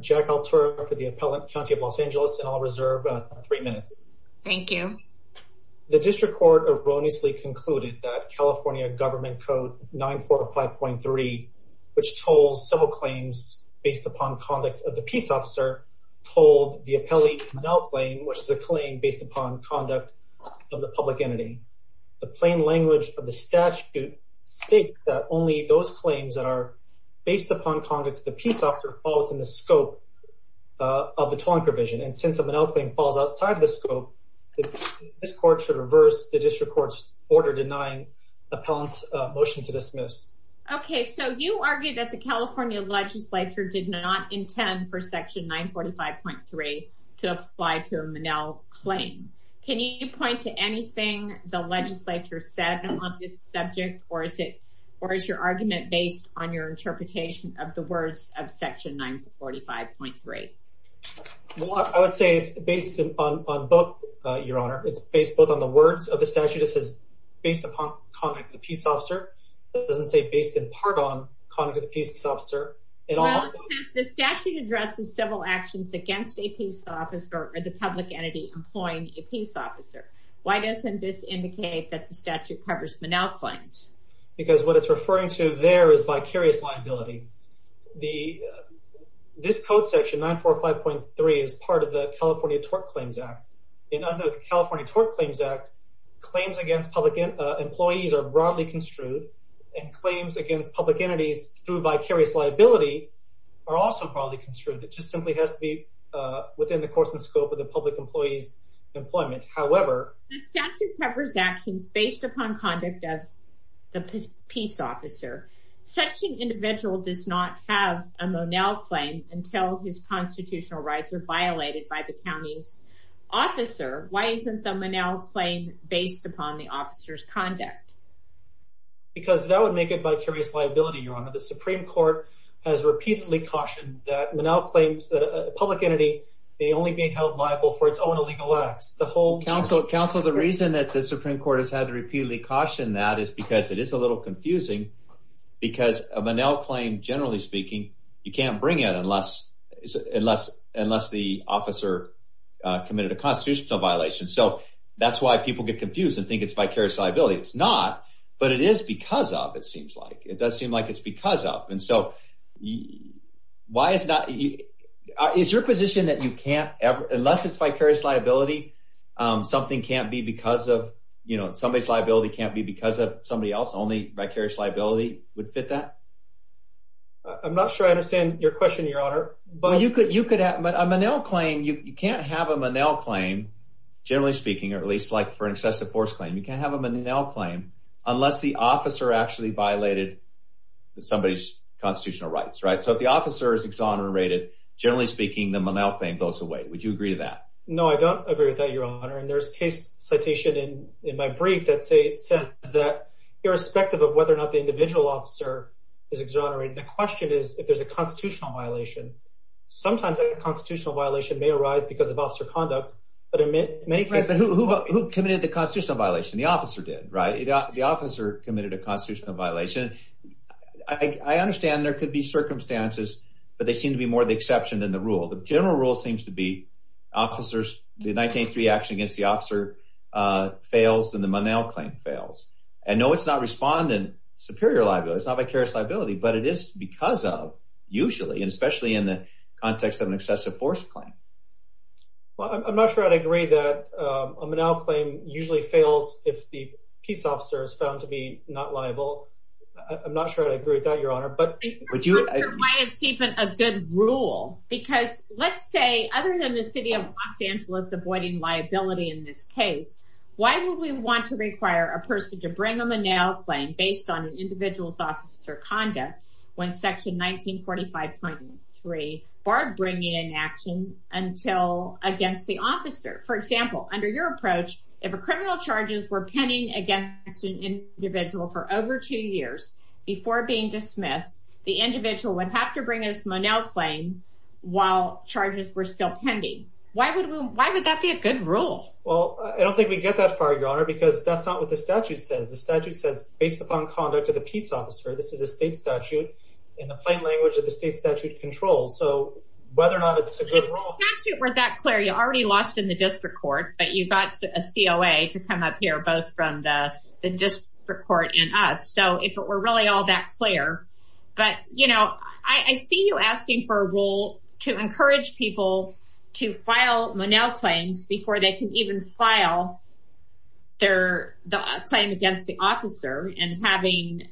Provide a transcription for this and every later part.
Jack Altura v. Appellate County of Los Angeles The California Legislature did not intend for Section 945.3 to apply to a Monell claim. Can you point to anything the Legislature said on this subject? Or is your argument based on your interpretation of the words of Section 945.3? Well, I would say it's based on both, Your Honor. It's based both on the words of the statute. It says, based upon conduct of the peace officer. It doesn't say based in part on conduct of the peace officer. The statute addresses civil actions against a peace officer or the public entity employing a peace officer. Why doesn't this indicate that the statute covers Monell claims? Because what it's referring to there is vicarious liability. This Code Section 945.3 is part of the California Tort Claims Act. In the California Tort Claims Act, claims against public employees are broadly construed. And claims against public entities through vicarious liability are also broadly construed. It just simply has to be within the course and scope of the public employee's employment. However, the statute covers actions based upon conduct of the peace officer. Such an individual does not have a Monell claim until his constitutional rights are violated by the county's officer. Why isn't the Monell claim based upon the officer's conduct? Because that would make it vicarious liability, Your Honor. The Supreme Court has repeatedly cautioned that Monell claims that a public entity may only be held liable for its own illegal acts. Counsel, the reason that the Supreme Court has had to repeatedly caution that is because it is a little confusing. Because a Monell claim, generally speaking, you can't bring it unless the officer committed a constitutional violation. So that's why people get confused and think it's vicarious liability. It's not, but it is because of, it seems like. It does seem like it's because of. And so, is your position that unless it's vicarious liability, somebody's liability can't be because of somebody else? Only vicarious liability would fit that? I'm not sure I understand your question, Your Honor. A Monell claim, you can't have a Monell claim, generally speaking, or at least for an excessive force claim. You can't have a Monell claim unless the officer actually violated somebody's constitutional rights, right? So if the officer is exonerated, generally speaking, the Monell claim goes away. Would you agree to that? No, I don't agree with that, Your Honor. And there's a case citation in my brief that says that irrespective of whether or not the individual officer is exonerated, the question is if there's a constitutional violation. Sometimes a constitutional violation may arise because of officer conduct. Who committed the constitutional violation? The officer did, right? The officer committed a constitutional violation. I understand there could be circumstances, but they seem to be more the exception than the rule. The general rule seems to be the 1983 action against the officer fails and the Monell claim fails. And no, it's not respondent superior liability. It's not vicarious liability, but it is because of, usually, and especially in the context of an excessive force claim. Well, I'm not sure I'd agree that a Monell claim usually fails if the peace officer is found to be not liable. I'm not sure I'd agree with that, Your Honor. I'm not sure why it's even a good rule. Because let's say, other than the city of Los Angeles avoiding liability in this case, why would we want to require a person to bring a Monell claim based on an individual's officer conduct when section 1945.3 barred bringing an action against the officer? For example, under your approach, if a criminal charges were pending against an individual for over two years before being dismissed, the individual would have to bring his Monell claim while charges were still pending. Why would that be a good rule? Well, I don't think we get that far, Your Honor, because that's not what the statute says. The statute says, based upon conduct of the peace officer, this is a state statute, and the plain language of the state statute controls. So whether or not it's a good rule. If the statute were that clear, you already lost in the district court, but you got a COA to come up here, both from the district court and us. So if it were really all that clear. But, you know, I see you asking for a rule to encourage people to file Monell claims before they can even file their claim against the officer and having,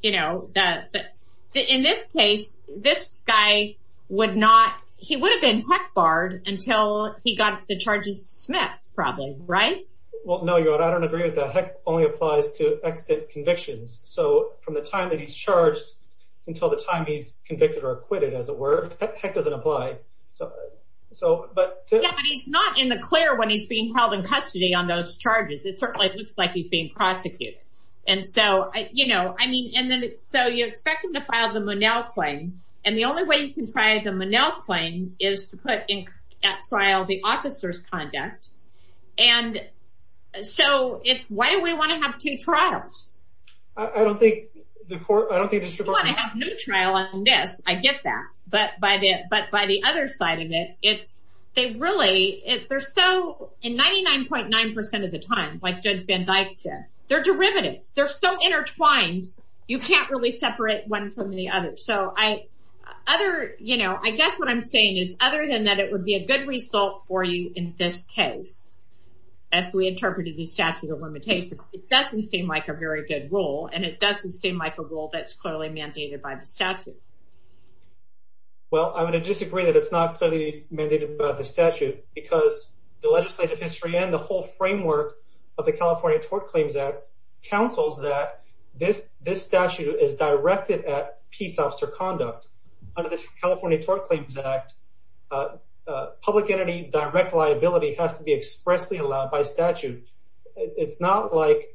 you know, but in this case, this guy would not, he would have been HEC barred until he got the charges dismissed, probably, right? Well, no, Your Honor, I don't agree with that. HEC only applies to extant convictions. So from the time that he's charged until the time he's convicted or acquitted, as it were, HEC doesn't apply. Yeah, but he's not in the clear when he's being held in custody on those charges. It certainly looks like he's being prosecuted. And so, you know, I mean, so you expect him to file the Monell claim, and the only way you can file the Monell claim is to put at trial the officer's conduct. And so it's, why do we want to have two trials? I don't think the court, I don't think the district court. I don't want to have no trial on this, I get that. But by the other side of it, they really, they're so, and 99.9% of the time, like Judge Van Dyke said, they're derivative, they're so intertwined, you can't really separate one from the other. So I, other, you know, I guess what I'm saying is, other than that it would be a good result for you in this case, if we interpreted the statute of limitations, it doesn't seem like a very good rule, and it doesn't seem like a rule that's clearly mandated by the statute. Well, I would disagree that it's not clearly mandated by the statute, because the legislative history and the whole framework of the California Tort Claims Act counsels that this statute is directed at peace officer conduct. Under the California Tort Claims Act, public entity direct liability has to be expressly allowed by statute. It's not like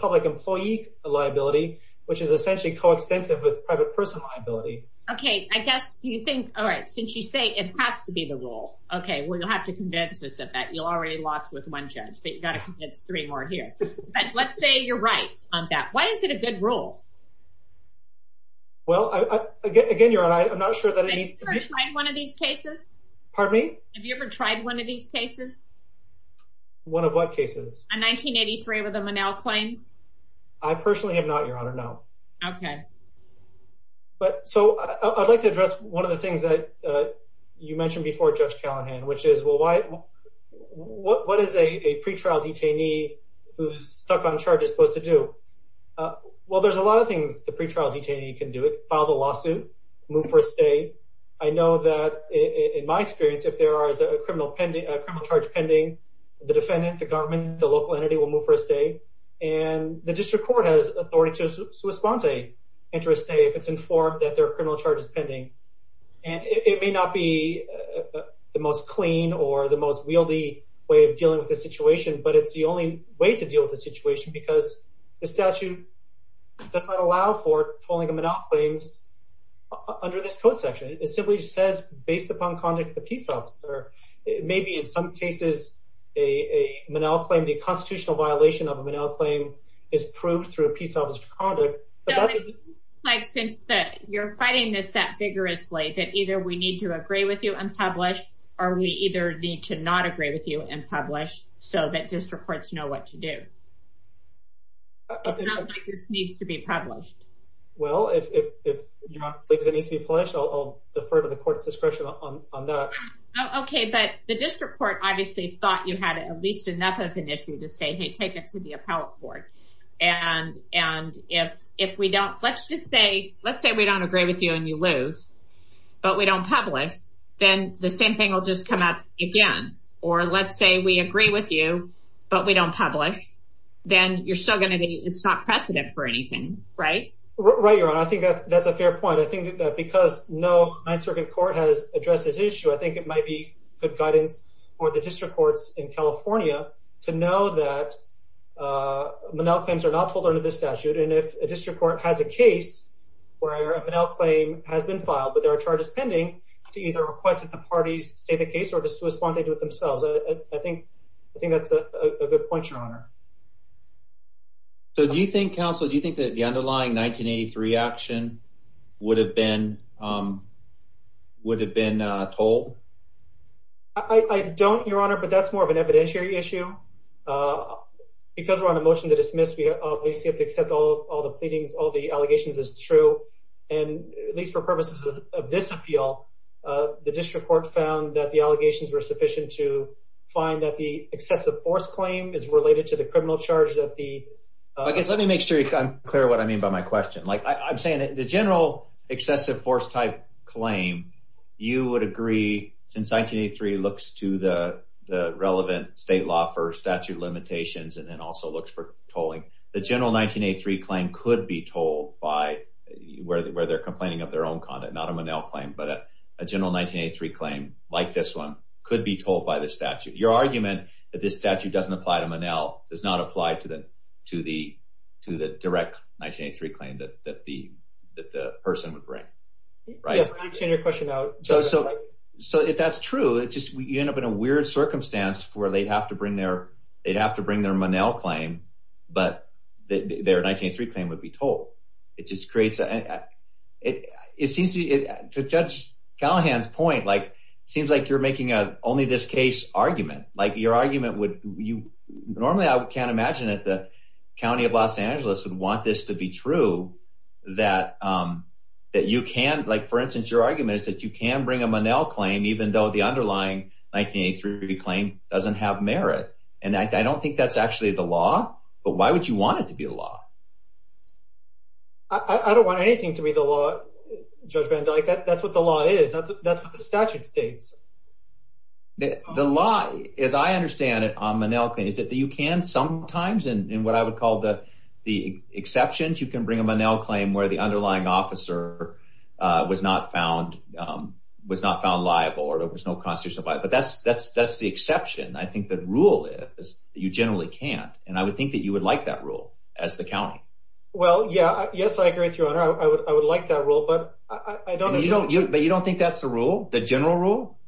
public employee liability, which is essentially coextensive with private person liability. Okay, I guess you think, all right, since you say it has to be the rule. Okay, well, you'll have to convince us of that. You already lost with one judge, but you've got to convince three more here. But let's say you're right on that. Why is it a good rule? Well, again, you're right, I'm not sure that it needs to be. Have you ever tried one of these cases? Pardon me? Have you ever tried one of these cases? One of what cases? A 1983 with a Monell claim? I personally have not, Your Honor, no. Okay. So I'd like to address one of the things that you mentioned before, Judge Callahan, which is, well, what is a pretrial detainee who's stuck on charges supposed to do? Well, there's a lot of things the pretrial detainee can do. File the lawsuit, move for a stay. I know that, in my experience, if there is a criminal charge pending, the defendant, the government, the local entity will move for a stay. And the district court has authority to respond to a stay if it's informed that their criminal charge is pending. And it may not be the most clean or the most wieldy way of dealing with the situation, but it's the only way to deal with the situation because the statute does not allow for tolling of Monell claims under this code section. It simply says, based upon conduct of the peace officer, maybe in some cases a Monell claim, the constitutional violation of a Monell claim is proved through a peace officer's conduct. Like since you're fighting this that vigorously, that either we need to agree with you and publish or we either need to not agree with you and publish so that district courts know what to do. It's not like this needs to be published. Well, if you don't think it needs to be published, I'll defer to the court's discretion on that. Okay, but the district court obviously thought you had at least enough of an issue to say, hey, take it to the appellate board. And if we don't, let's just say, let's say we don't agree with you and you lose, but we don't publish, then the same thing will just come up again. Or let's say we agree with you, but we don't publish. Then you're still going to be, it's not precedent for anything, right? Right. You're right. I think that's a fair point. I think that because no ninth circuit court has addressed this issue, I think it might be good guidance for the district courts in California to know that Monell claims are not told under the statute. And if a district court has a case where a Monell claim has been filed, but there are charges pending to either request that the parties state the claim themselves. I think, I think that's a good point, your honor. So do you think counsel, do you think that the underlying 1983 action would have been, would have been a toll? I don't your honor, but that's more of an evidentiary issue. Because we're on a motion to dismiss, we obviously have to accept all, all the pleadings, all the allegations is true. And at least for purposes of this appeal, the district court found that the allegations were sufficient to find that the excessive force claim is related to the criminal charge that the, I guess, let me make sure I'm clear what I mean by my question. Like I I'm saying that the general excessive force type claim, you would agree since 1983 looks to the, the relevant state law for statute limitations. And then also looks for tolling the general 1983 claim could be told by where the, where they're complaining of their own content, not a Monell claim, but a general 1983 claim like this one could be told by the statute. Your argument that this statute doesn't apply to Monell does not apply to the, to the, to the direct 1983 claim that, that the, that the person would bring. Right. So, so, so if that's true, it just, you end up in a weird circumstance where they'd have to bring their, they'd have to bring their Monell claim, but their 1983 claim would be told. It just creates a, it, it seems to judge Callahan's point. Like, it seems like you're making a, only this case argument, like your argument would you normally, I can't imagine that the County of Los Angeles would want this to be true that, that you can, like, for instance, your argument is that you can bring a Monell claim, even though the underlying 1983 claim doesn't have merit. And I don't think that's actually the law, but why would you want it to be a law? I don't want anything to be the law, Judge Van Dyke. That's what the law is. That's what the statute states. The law, as I understand it on Monell claim, is that you can sometimes in, in what I would call the, the exceptions, you can bring a Monell claim where the underlying officer was not found, was not found liable or there was no constitutional, but that's, that's, that's the exception. I think that rule is you generally can't. And I would think that you would like that rule as the County. Well, yeah, yes, I agree with your honor. I would, I would like that rule, but I don't know. But you don't think that's the rule, the general rule?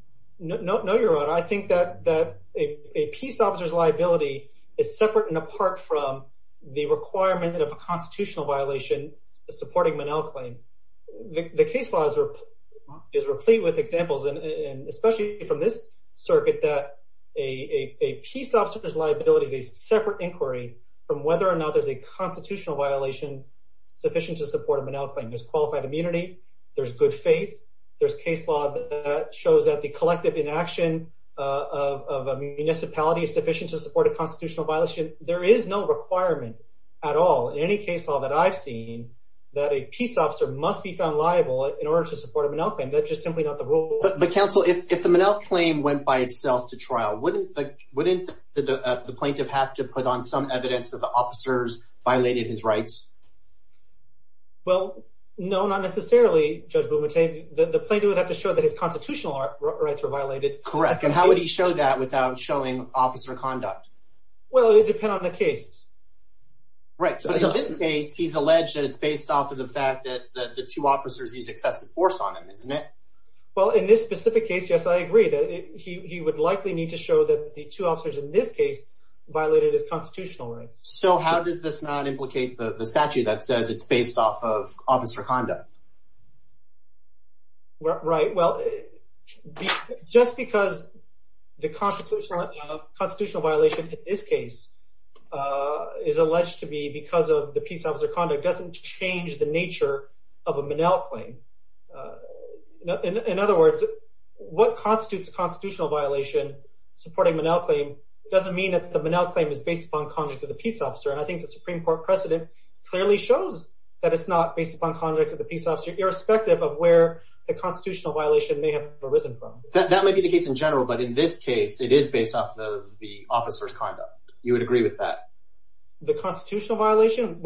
No, no, your honor. I think that that a peace officer's liability is separate and apart from the requirement of a constitutional violation supporting Monell claim. The case law is replete with examples. And especially from this circuit, that a peace officer's liability is a separate inquiry from whether or not there's a constitutional violation sufficient to support a Monell claim. There's qualified immunity. There's good faith. There's case law that shows that the collective inaction of a municipality is sufficient to support a constitutional violation. There is no requirement at all. In any case law that I've seen that a peace officer must be found liable in order to support a Monell claim. That's just simply not the rule. But counsel, if the Monell claim went by itself to trial, wouldn't the plaintiff have to put on some evidence that the officers violated his rights? Well, no, not necessarily, Judge Bumate. The plaintiff would have to show that his constitutional rights were violated. Correct. And how would he show that without showing officer conduct? Well, it would depend on the case. Right. So in this case, he's alleged that it's based off of the fact that the two officers use excessive force on him, isn't it? Well, in this specific case, yes, I agree that he would likely need to show that the two officers in this case violated his constitutional rights. So how does this not implicate the statute that says it's based off of officer conduct? Right. Well, just because the constitutional violation in this case is alleged to be because of the peace officer conduct doesn't change the In other words, what constitutes a constitutional violation supporting Monell claim doesn't mean that the Monell claim is based upon conduct of the peace officer. And I think the Supreme Court precedent clearly shows that it's not based upon conduct of the peace officer, irrespective of where the constitutional violation may have arisen from. That may be the case in general, but in this case, it is based off of the officer's conduct. You would agree with that? The constitutional violation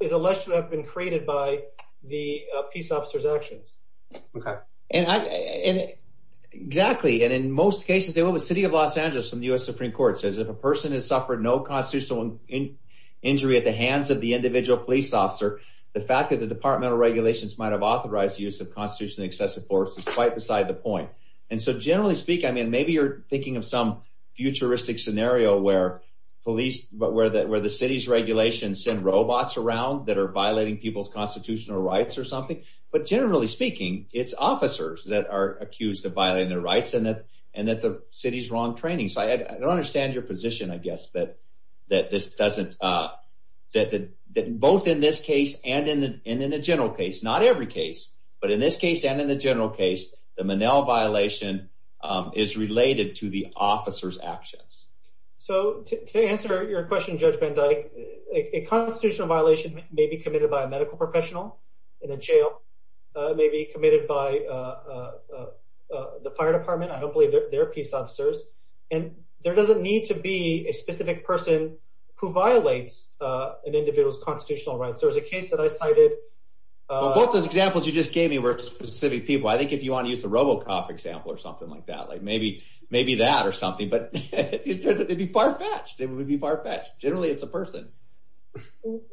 is alleged to have been created by the peace officer's actions. Okay. Exactly. And in most cases, the city of Los Angeles from the U.S. Supreme Court says if a person has suffered no constitutional injury at the hands of the individual police officer, the fact that the departmental regulations might have authorized the use of constitutionally excessive force is quite beside the point. And so generally speaking, maybe you're thinking of some futuristic scenario where the city's regulations send robots around that are violating people's constitutional rights or whatever, but generally speaking, it's officers that are accused of violating their rights and that the city's wrong training. So I don't understand your position, I guess, that both in this case and in the general case, not every case, but in this case and in the general case, the Manell violation is related to the officer's actions. So to answer your question, Judge Van Dyke, a constitutional violation may be committed by a medical professional in a jail, maybe committed by the fire department. I don't believe they're peace officers and there doesn't need to be a specific person who violates an individual's constitutional rights. There was a case that I cited. Well, both those examples you just gave me were specific people. I think if you want to use the RoboCop example or something like that, like maybe, maybe that or something, but it'd be far fetched. It would be far fetched. Generally, it's a person.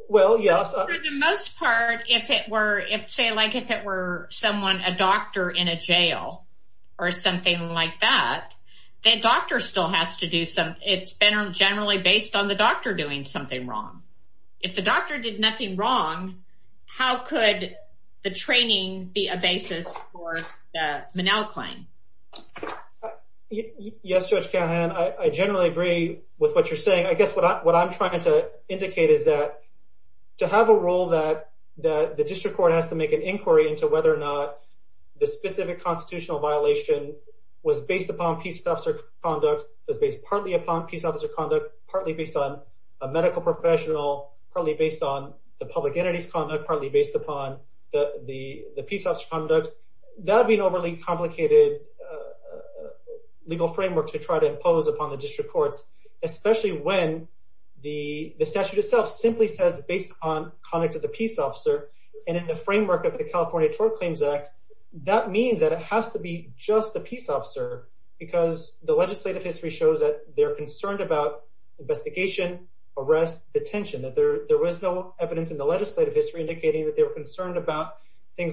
Well, yes. For the most part, if it were, if say, like if it were someone a doctor in a jail or something like that, the doctor still has to do some, it's been generally based on the doctor doing something wrong. If the doctor did nothing wrong, how could the training be a basis for the Manell claim? Yes, Judge Callahan. I generally agree with what you're saying. I guess what I'm trying to indicate is that to have a role that, that the district court has to make an inquiry into whether or not the specific constitutional violation was based upon peace officer conduct is based partly upon peace officer conduct, partly based on a medical professional, probably based on the public entities conduct partly based upon the, the peace officer conduct. That'd be an overly complicated legal framework to try to impose upon the district courts, especially when the statute itself simply says based on conduct of the peace officer. And in the framework of the California tort claims act, that means that it has to be just the peace officer because the legislative history shows that they're concerned about investigation, arrest, detention, that there, there was no evidence in the legislative history indicating that they were I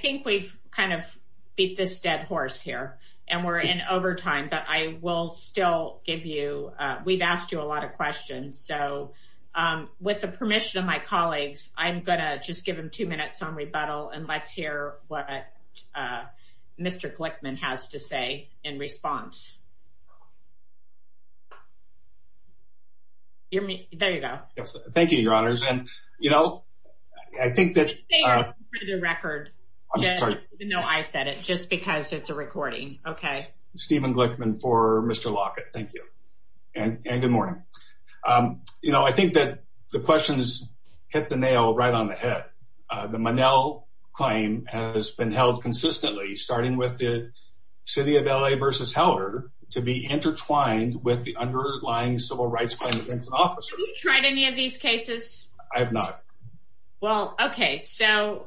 think we've kind of beat this dead horse here and we're in overtime, but I will still give you a, we've asked you a lot of questions. So with the permission of my colleagues, I'm going to just give them two minutes on rebuttal and let's hear what Mr. Glickman has to say in response. There you go. Thank you, your honors. And you know, I think that the record, no, I said it just because it's a recording. Okay. Stephen Glickman for Mr. Lockett. Thank you. And good morning. You know, I think that the question is hit the nail right on the head. The Monell claim has been held consistently, starting with the city of LA versus Heller to be intertwined with the underlying civil rights claim. Have you tried any of these cases? I have not. Well, okay. So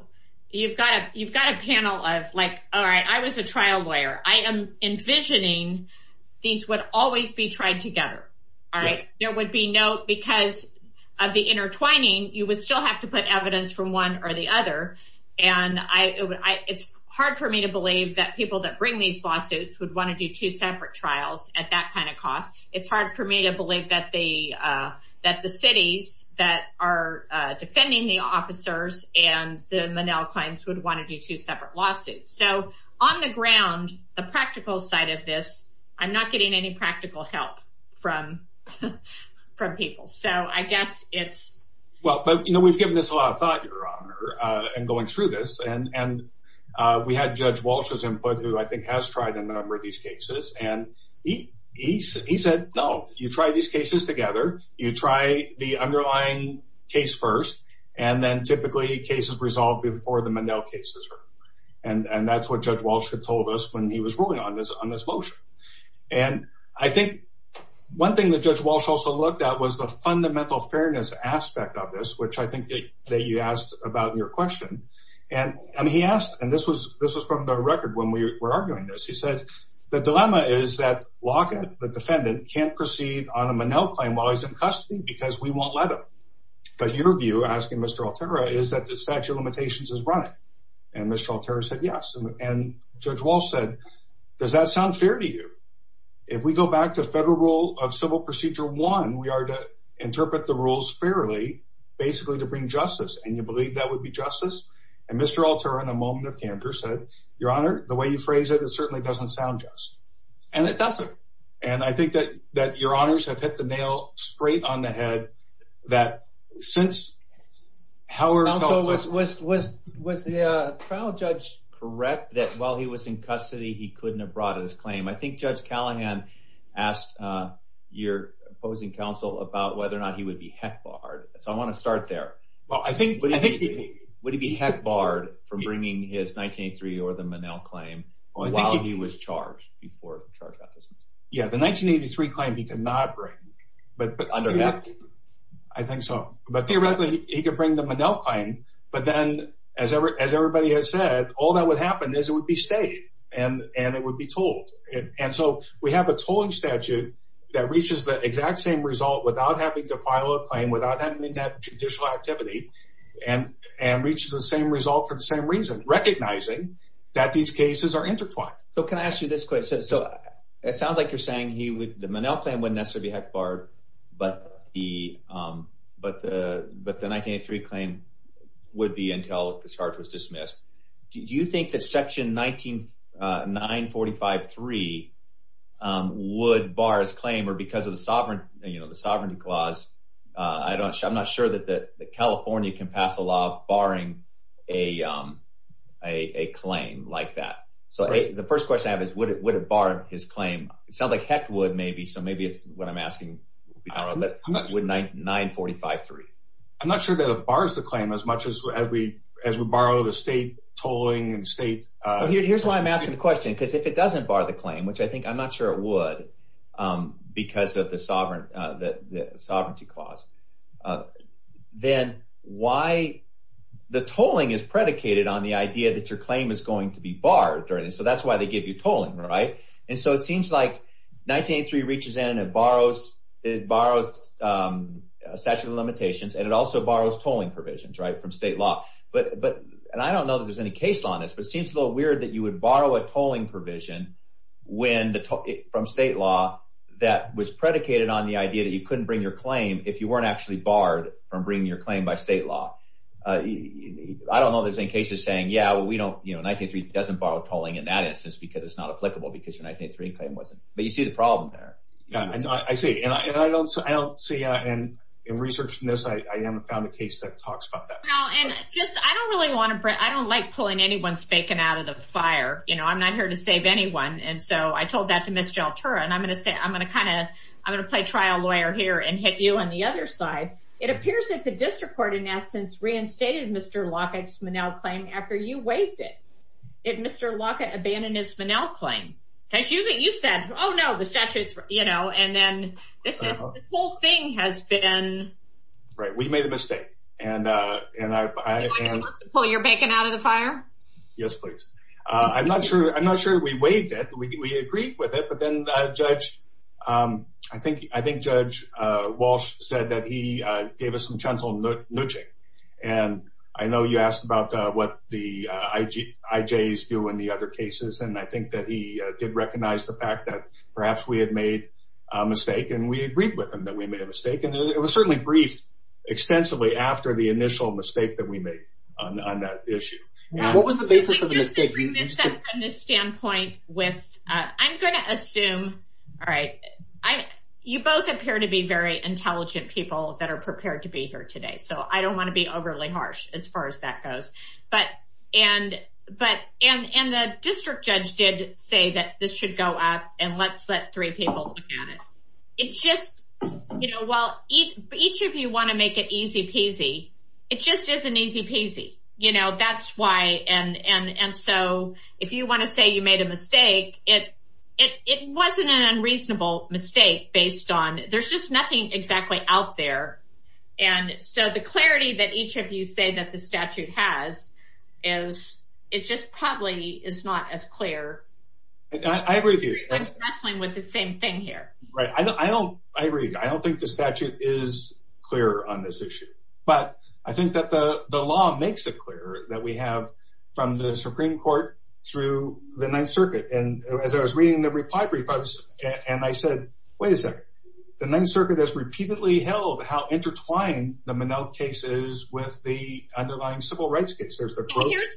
you've got, you've got a panel of like, all right, I was a trial lawyer. I am envisioning these would always be tried together. All right. There would be no, because of the intertwining, you would still have to put evidence from one or the other. And I, it's hard for me to believe that people that bring these lawsuits would want to do two separate trials at that kind of cost. It's hard for me to believe that the, that the cities that are defending the officers and the Monell claims would want to do two separate lawsuits. So on the ground, the practical side of this, I'm not getting any practical help from, from people. So I guess it's. Well, but you know, we've given this a lot of thought and going through this and, and we had judge Walsh's input who I think has tried a number of these cases and he, he said, no, you try these cases together. You try the underlying case first, and then typically cases resolved before the Monell cases are. And, and that's what judge Walsh had told us when he was ruling on this, on this motion. And I think one thing that judge Walsh also looked at was the fundamental fairness aspect of this, which I think that you asked about in your question. And I mean, he asked, and this was, this was from the record when we were arguing this, he said, the dilemma is that Lockett, the defendant can't proceed on a Monell claim while he's in custody because we won't let him. But your view asking Mr. Alterra is that the statute of limitations is running. And Mr. Alterra said, yes. And judge Walsh said, does that sound fair to you? If we go back to federal rule of civil procedure one, we are to interpret the rules fairly, basically to bring justice. And you believe that would be justice. And Mr. Alterra said, your honor, the way you phrase it, it certainly doesn't sound just and it doesn't. And I think that, that your honors have hit the nail straight on the head. That since Howard was, was, was, was the trial judge correct that while he was in custody, he couldn't have brought his claim. I think judge Callahan asked, your opposing counsel about whether or not he would be heck barred. So I want to start there. Well, I think, would he be heck barred from bringing his 1983 or the Monell claim while he was charged before. Yeah. The 1983 claim he could not bring, but, but under that, I think so. But theoretically he could bring them a no claim, but then as ever, as everybody has said, all that would happen is it would be stayed and, and it would be told. And so we have a tolling statute that reaches the exact same result without having to file a claim without having to have judicial activity and, and reaches the same result for the same reason, recognizing that these cases are intertwined. So can I ask you this question? So it sounds like you're saying he would, the Monell claim wouldn't necessarily be heck barred, but he, but the, but the 1983 claim would be until the charge was dismissed. Do you think that section 19 9 45 3 would bar his claim or because of the sovereign, you know, the sovereignty clause? I don't show, I'm not sure that the, the California can pass a law barring a a claim like that. So the first question I have is would it, would it bar his claim? It sounds like heck would maybe. So maybe it's what I'm asking. I don't know, but would 9 9 45 3. I'm not sure that it bars the claim as much as, as we, as we borrow the state tolling and state. Here's why I'm asking the question. Cause if it doesn't bar the claim, which I think I'm not sure it would because of the sovereign, the sovereignty clause, then why the tolling is predicated on the idea that your claim is going to be barred during this. So that's why they give you tolling. Right. And so it seems like 1983 reaches in and it borrows, it borrows statute of limitations and it also borrows tolling provisions right from state law. But, but, and I don't know that there's any case law on this, but it seems a little weird that you would borrow a tolling provision when the from state law that was predicated on the idea that you couldn't bring your claim if you weren't actually barred from bringing your claim by state law. I don't know if there's any cases saying, yeah, well we don't, you know, 1983 doesn't borrow tolling in that instance because it's not applicable because your 1983 claim wasn't, but you see the problem there. I see. And I don't, I don't see. And in research, I haven't found a case that talks about that. Well, and just, I don't really want to bring, I don't like pulling anyone's bacon out of the fire. You know, I'm not here to save anyone. And so I told that to Ms. Jaltura. And I'm going to say, I'm going to kind of, I'm going to play trial lawyer here and hit you on the other side. It appears that the district court in essence reinstated Mr. Lockett's Monell claim after you waived it. If Mr. Lockett abandoned his Monell claim. Cause you said, Oh no, the statutes, you know, and then this whole thing has been. Right. We made a mistake. And, uh, and I, Pull your bacon out of the fire. Yes, please. Uh, I'm not sure. I'm not sure we waived it. We, we agreed with it, but then, uh, judge, um, I think, I think judge, uh, Walsh said that he, uh, gave us some gentle nooching and I know you asked about, uh, what the, uh, I G I J's do in the other cases. And I think that he did recognize the fact that perhaps we had made a mistake and we agreed with him that we made a mistake. And it was certainly briefed extensively after the initial mistake that we made on that issue. What was the basis of the mistake? From this standpoint with, uh, I'm going to assume, all right, I, you both appear to be very intelligent people that are prepared to be here today. So I don't want to be overly harsh as far as that goes, but, and, but, and, and the district judge did say that this should go up and let's let three people look at it. It just, you know, while each, each of you want to make it easy peasy, it just isn't easy peasy, you know, that's why. And, and, and so if you want to say you made a mistake, it, it, it wasn't an unreasonable mistake based on, there's just nothing exactly out there. And so the clarity that each of you say that the statute has is it just probably is not as clear. I agree with you with the same thing here, right? I don't, I agree. I don't think the statute is clear on this issue, but I think that the law makes it clear that we have from the Supreme court through the ninth circuit. And as I was reading the reply brief, I was, and I said, wait a second, the ninth circuit has repeatedly held how intertwined the Monell case is with the underlying civil rights case. Here's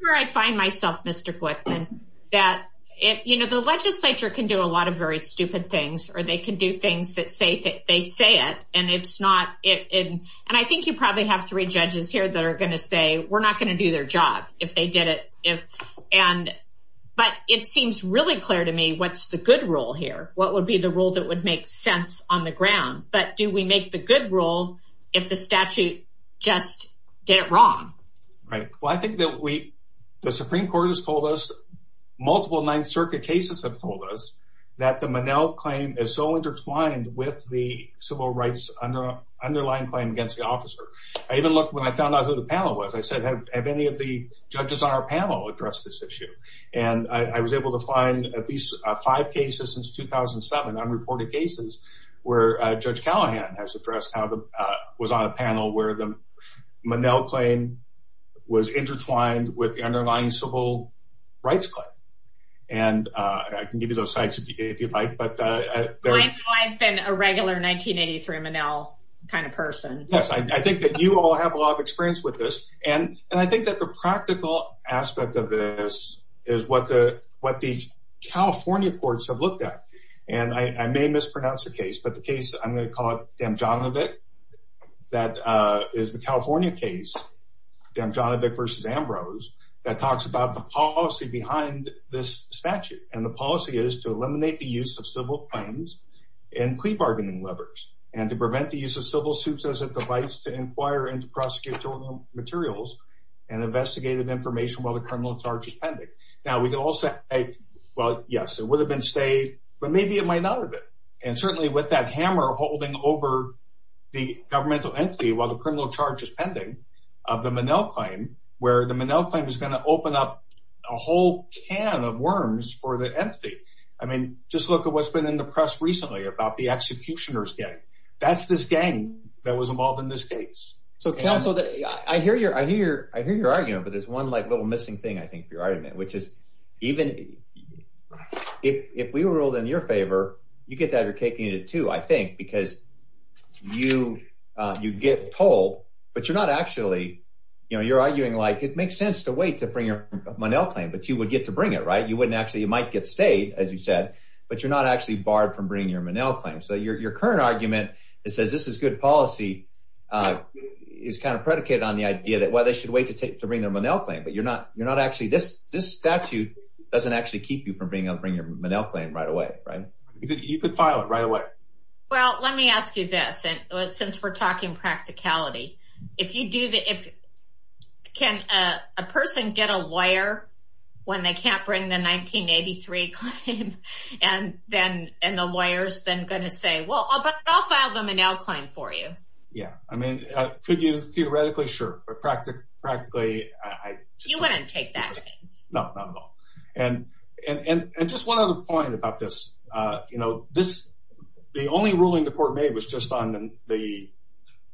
where I find myself, Mr. Glickman that it, you know, the legislature can do a lot of very stupid things or they can do things that say that they say it. And it's not it. And I think you probably have three judges here that are going to say we're not going to do their job if they did it. If, and, but it seems really clear to me what's the good role here, what would be the role that would make sense on the ground, but do we make the good role if the statute just did it wrong? Right. Well, I think that we, the Supreme court has told us multiple, ninth circuit cases have told us that the Monell claim is so intertwined with the civil rights under underlying claim against the officer. I even looked when I found out who the panel was, I said, have any of the judges on our panel address this issue? And I was able to find at least five cases since 2007, unreported cases where a judge Callahan has addressed how the, was on a panel where the Monell claim was intertwined with the underlying civil rights claim. And I can give you those sites if you'd like, but I've been a regular 1983 Monell kind of person. Yes. I think that you all have a lot of experience with this. And I think that the practical aspect of this is what the, what the California courts have looked at. And I may mispronounce the case, but the case I'm going to call it damn John of it. That is the California case. Damn John of it versus Ambrose that talks about the policy behind this statute. And the policy is to eliminate the use of civil claims and plea bargaining levers and to prevent the use of civil suits as a device to inquire into prosecutorial materials and investigative information while the criminal charges pending. Now we can all say, well, yes, it would have been stayed, but maybe it might not have been. And certainly with that hammer holding over the governmental entity, while the criminal charge is pending of the Monell claim, where the Monell claim is going to open up a whole can of worms for the entity. I mean, just look at what's been in the press recently about the executioner's gang. That's this gang that was involved in this case. So I hear your, I hear your, I hear your argument, but there's one like little missing thing I think for your argument, which is even if we were ruled in your favor, you get to have your cake and eat it too, I think, because you, you get told, but you're not actually, you know, you're arguing like it makes sense to wait to bring your Monell claim, but you would get to bring it right. You wouldn't actually, you might get stayed as you said, but you're not actually barred from bringing your Monell claim. So your, your current argument that says this is good policy is kind of predicated on the idea that, well, they should wait to take to bring their Monell claim, but you're not, you're not actually this, this statute doesn't actually keep you from being able to bring your Monell claim right away. Right. You could file it right away. Well, let me ask you this. And since we're talking practicality, if you do the, if can a person get a lawyer when they can't bring the 1983 claim and then, and the lawyers then going to say, well, I'll file them and now claim for you. Yeah. I mean, could you theoretically? Sure. But practically, practically, you wouldn't take that. No, not at all. And, and, and, and just one other point about this you know, this, the only ruling the court made was just on the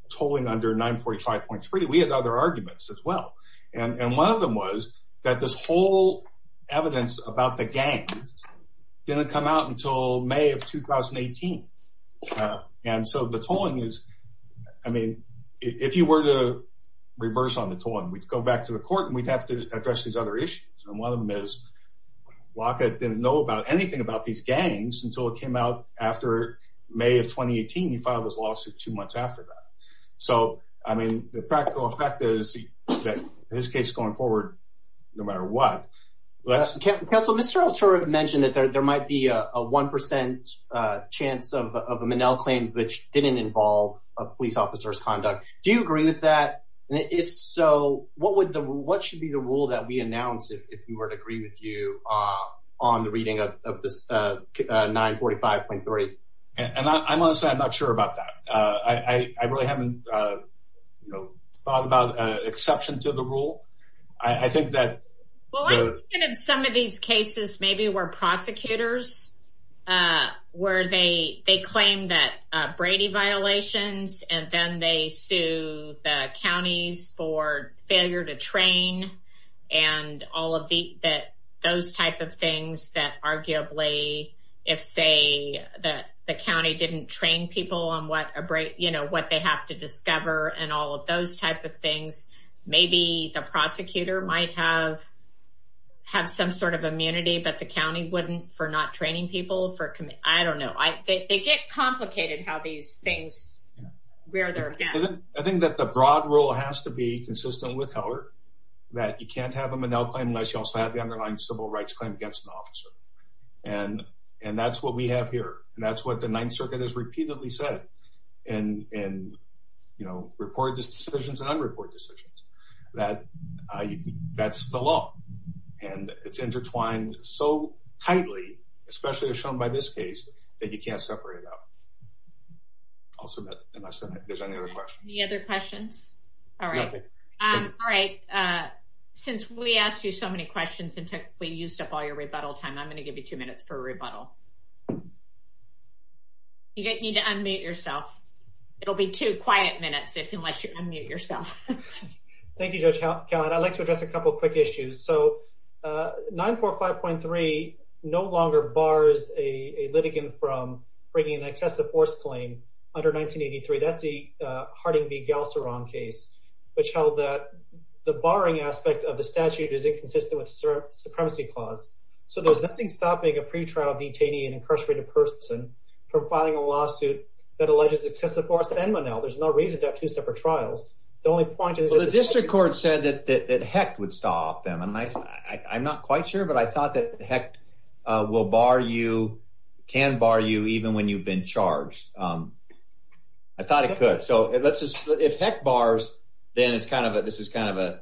tolling under 945.3. We had other arguments as well. And one of them was that this whole evidence about the gang didn't come out until may of 2018. And so the tolling is, I mean, if you were to reverse on the tolling, we'd go back to the court and we'd have to address these other issues. And one of them is locket. Didn't know about anything about these gangs until it came out after may of 2018, you filed this lawsuit two months after that. So, I mean, the practical effect is that his case going forward, no matter what. Counsel, Mr. Alter mentioned that there, there might be a 1% chance of a Monell claim, which didn't involve a police officer's conduct. Do you agree with that? And if so, what would the, what should be the rule that we announced if you were to agree with you on the reading of this 945.3? And I'm honestly, I'm not sure about that. I, I, I really haven't, you know, thought about exception to the rule. I think that. Some of these cases maybe were prosecutors where they, they claim that Brady violations, and then they sue the counties for failure to train and all of the, that those types of things that arguably, if say that the County didn't train people on what a break, you know, what they have to discover and all of those types of things, maybe the prosecutor might have have some sort of immunity, but the County wouldn't for not training people for, I don't know. I think they get complicated how these things, where they're at. I think that the broad rule has to be consistent with Heller that you can't have a Monell claim unless you also have the underlying civil rights claim against an officer. And, and that's what we have here. And that's what the ninth circuit has repeatedly said. And, and, you know, reported decisions and unreported decisions that that's the law and it's intertwined so tightly, especially as shown by this case that you can't separate it out. I'll submit there's any other questions. The other questions. All right. All right. Since we asked you so many questions and tech, we used up all your rebuttal time. I'm going to give you two minutes for a rebuttal. You guys need to unmute yourself. It'll be two quiet minutes if, unless you unmute yourself. Thank you, judge. God, I'd like to address a couple of quick issues. So 945.3, no longer bars a litigant from bringing an excessive force claim under 1983. That's the Harding v. Galceron case, which held that the barring aspect of the statute is inconsistent with supremacy clause. So there's nothing stopping a pretrial detainee and incarcerated person from filing a lawsuit that alleges excessive force and Monell. There's no reason to have two separate trials. The only point is, well, the district court said that, that, that heck would stop them. And I, I'm not quite sure, but I thought that heck will bar you, can bar you even when you've been charged. I thought it could. So let's just, if heck bars, then it's kind of a, this is kind of a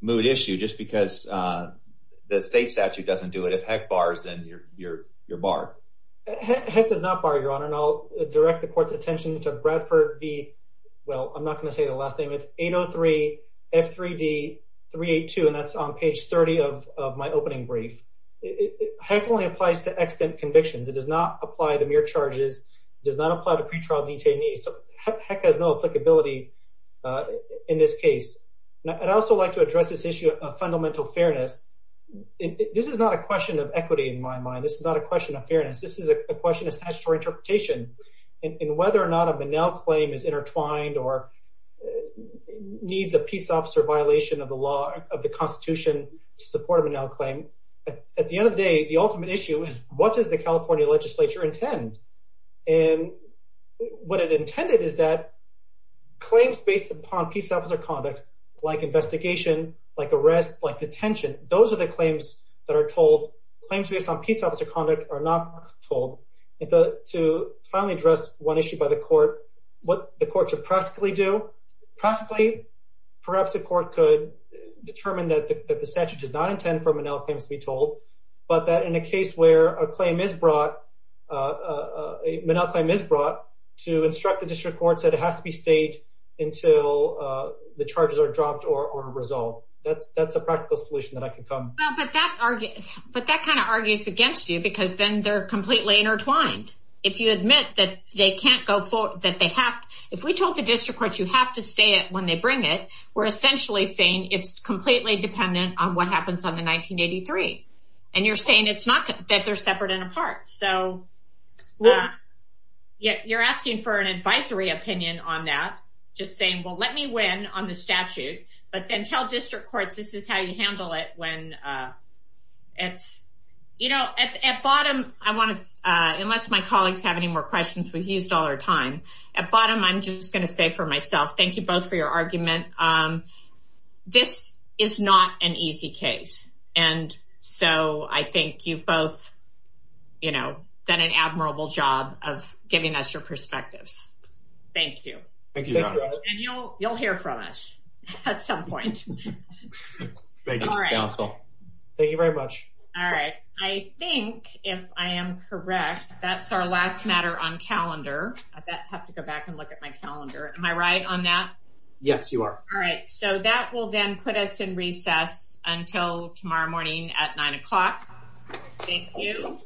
mood issue just because the state statute doesn't do it. If heck bars, then you're, you're, you're barred. Heck does not bar your honor. And I'll direct the court's attention to Bradford v. Well, F3D 382. And that's on page 30 of my opening brief. Heck only applies to extant convictions. It does not apply to mere charges. It does not apply to pretrial detainees. Heck has no applicability in this case. And I'd also like to address this issue of fundamental fairness. This is not a question of equity in my mind. This is not a question of fairness. This is a question of statutory interpretation and whether or not a Monell claim is intertwined or needs a peace officer violation of the law, of the constitution to support a Monell claim. At the end of the day, the ultimate issue is what does the California legislature intend? And what it intended is that claims based upon peace officer conduct like investigation, like arrest, like detention, those are the claims that are told claims based on peace officer conduct are not told to finally address one issue by the court, what the court should practically do. Practically, perhaps the court could determine that the statute does not intend for Monell claims to be told, but that in a case where a claim is brought, a Monell claim is brought to instruct the district courts that it has to be stayed until the charges are dropped or resolved. That's, that's a practical solution that I can come. But that kind of argues against you because then they're completely intertwined. If you admit that they can't go forth, that they have, if we told the district courts, you have to stay at when they bring it, we're essentially saying it's completely dependent on what happens on the 1983. And you're saying it's not that they're separate and apart. So yeah, you're asking for an advisory opinion on that. Just saying, well, let me win on the statute, but then tell district courts, this is how you handle it when it's, you know, at, at bottom, I want to unless my colleagues have any more questions, we've used all our time at bottom. I'm just going to say for myself, thank you both for your argument. This is not an easy case. And so I think you've both, you know, done an admirable job of giving us your perspectives. Thank you. And you'll, you'll hear from us at some point. Thank you very much. All right. I think if I am correct, that's our last matter on calendar. I have to go back and look at my calendar. Am I right on that? Yes, you are. All right. So that will then put us in recess until tomorrow morning at nine o'clock. Thank you.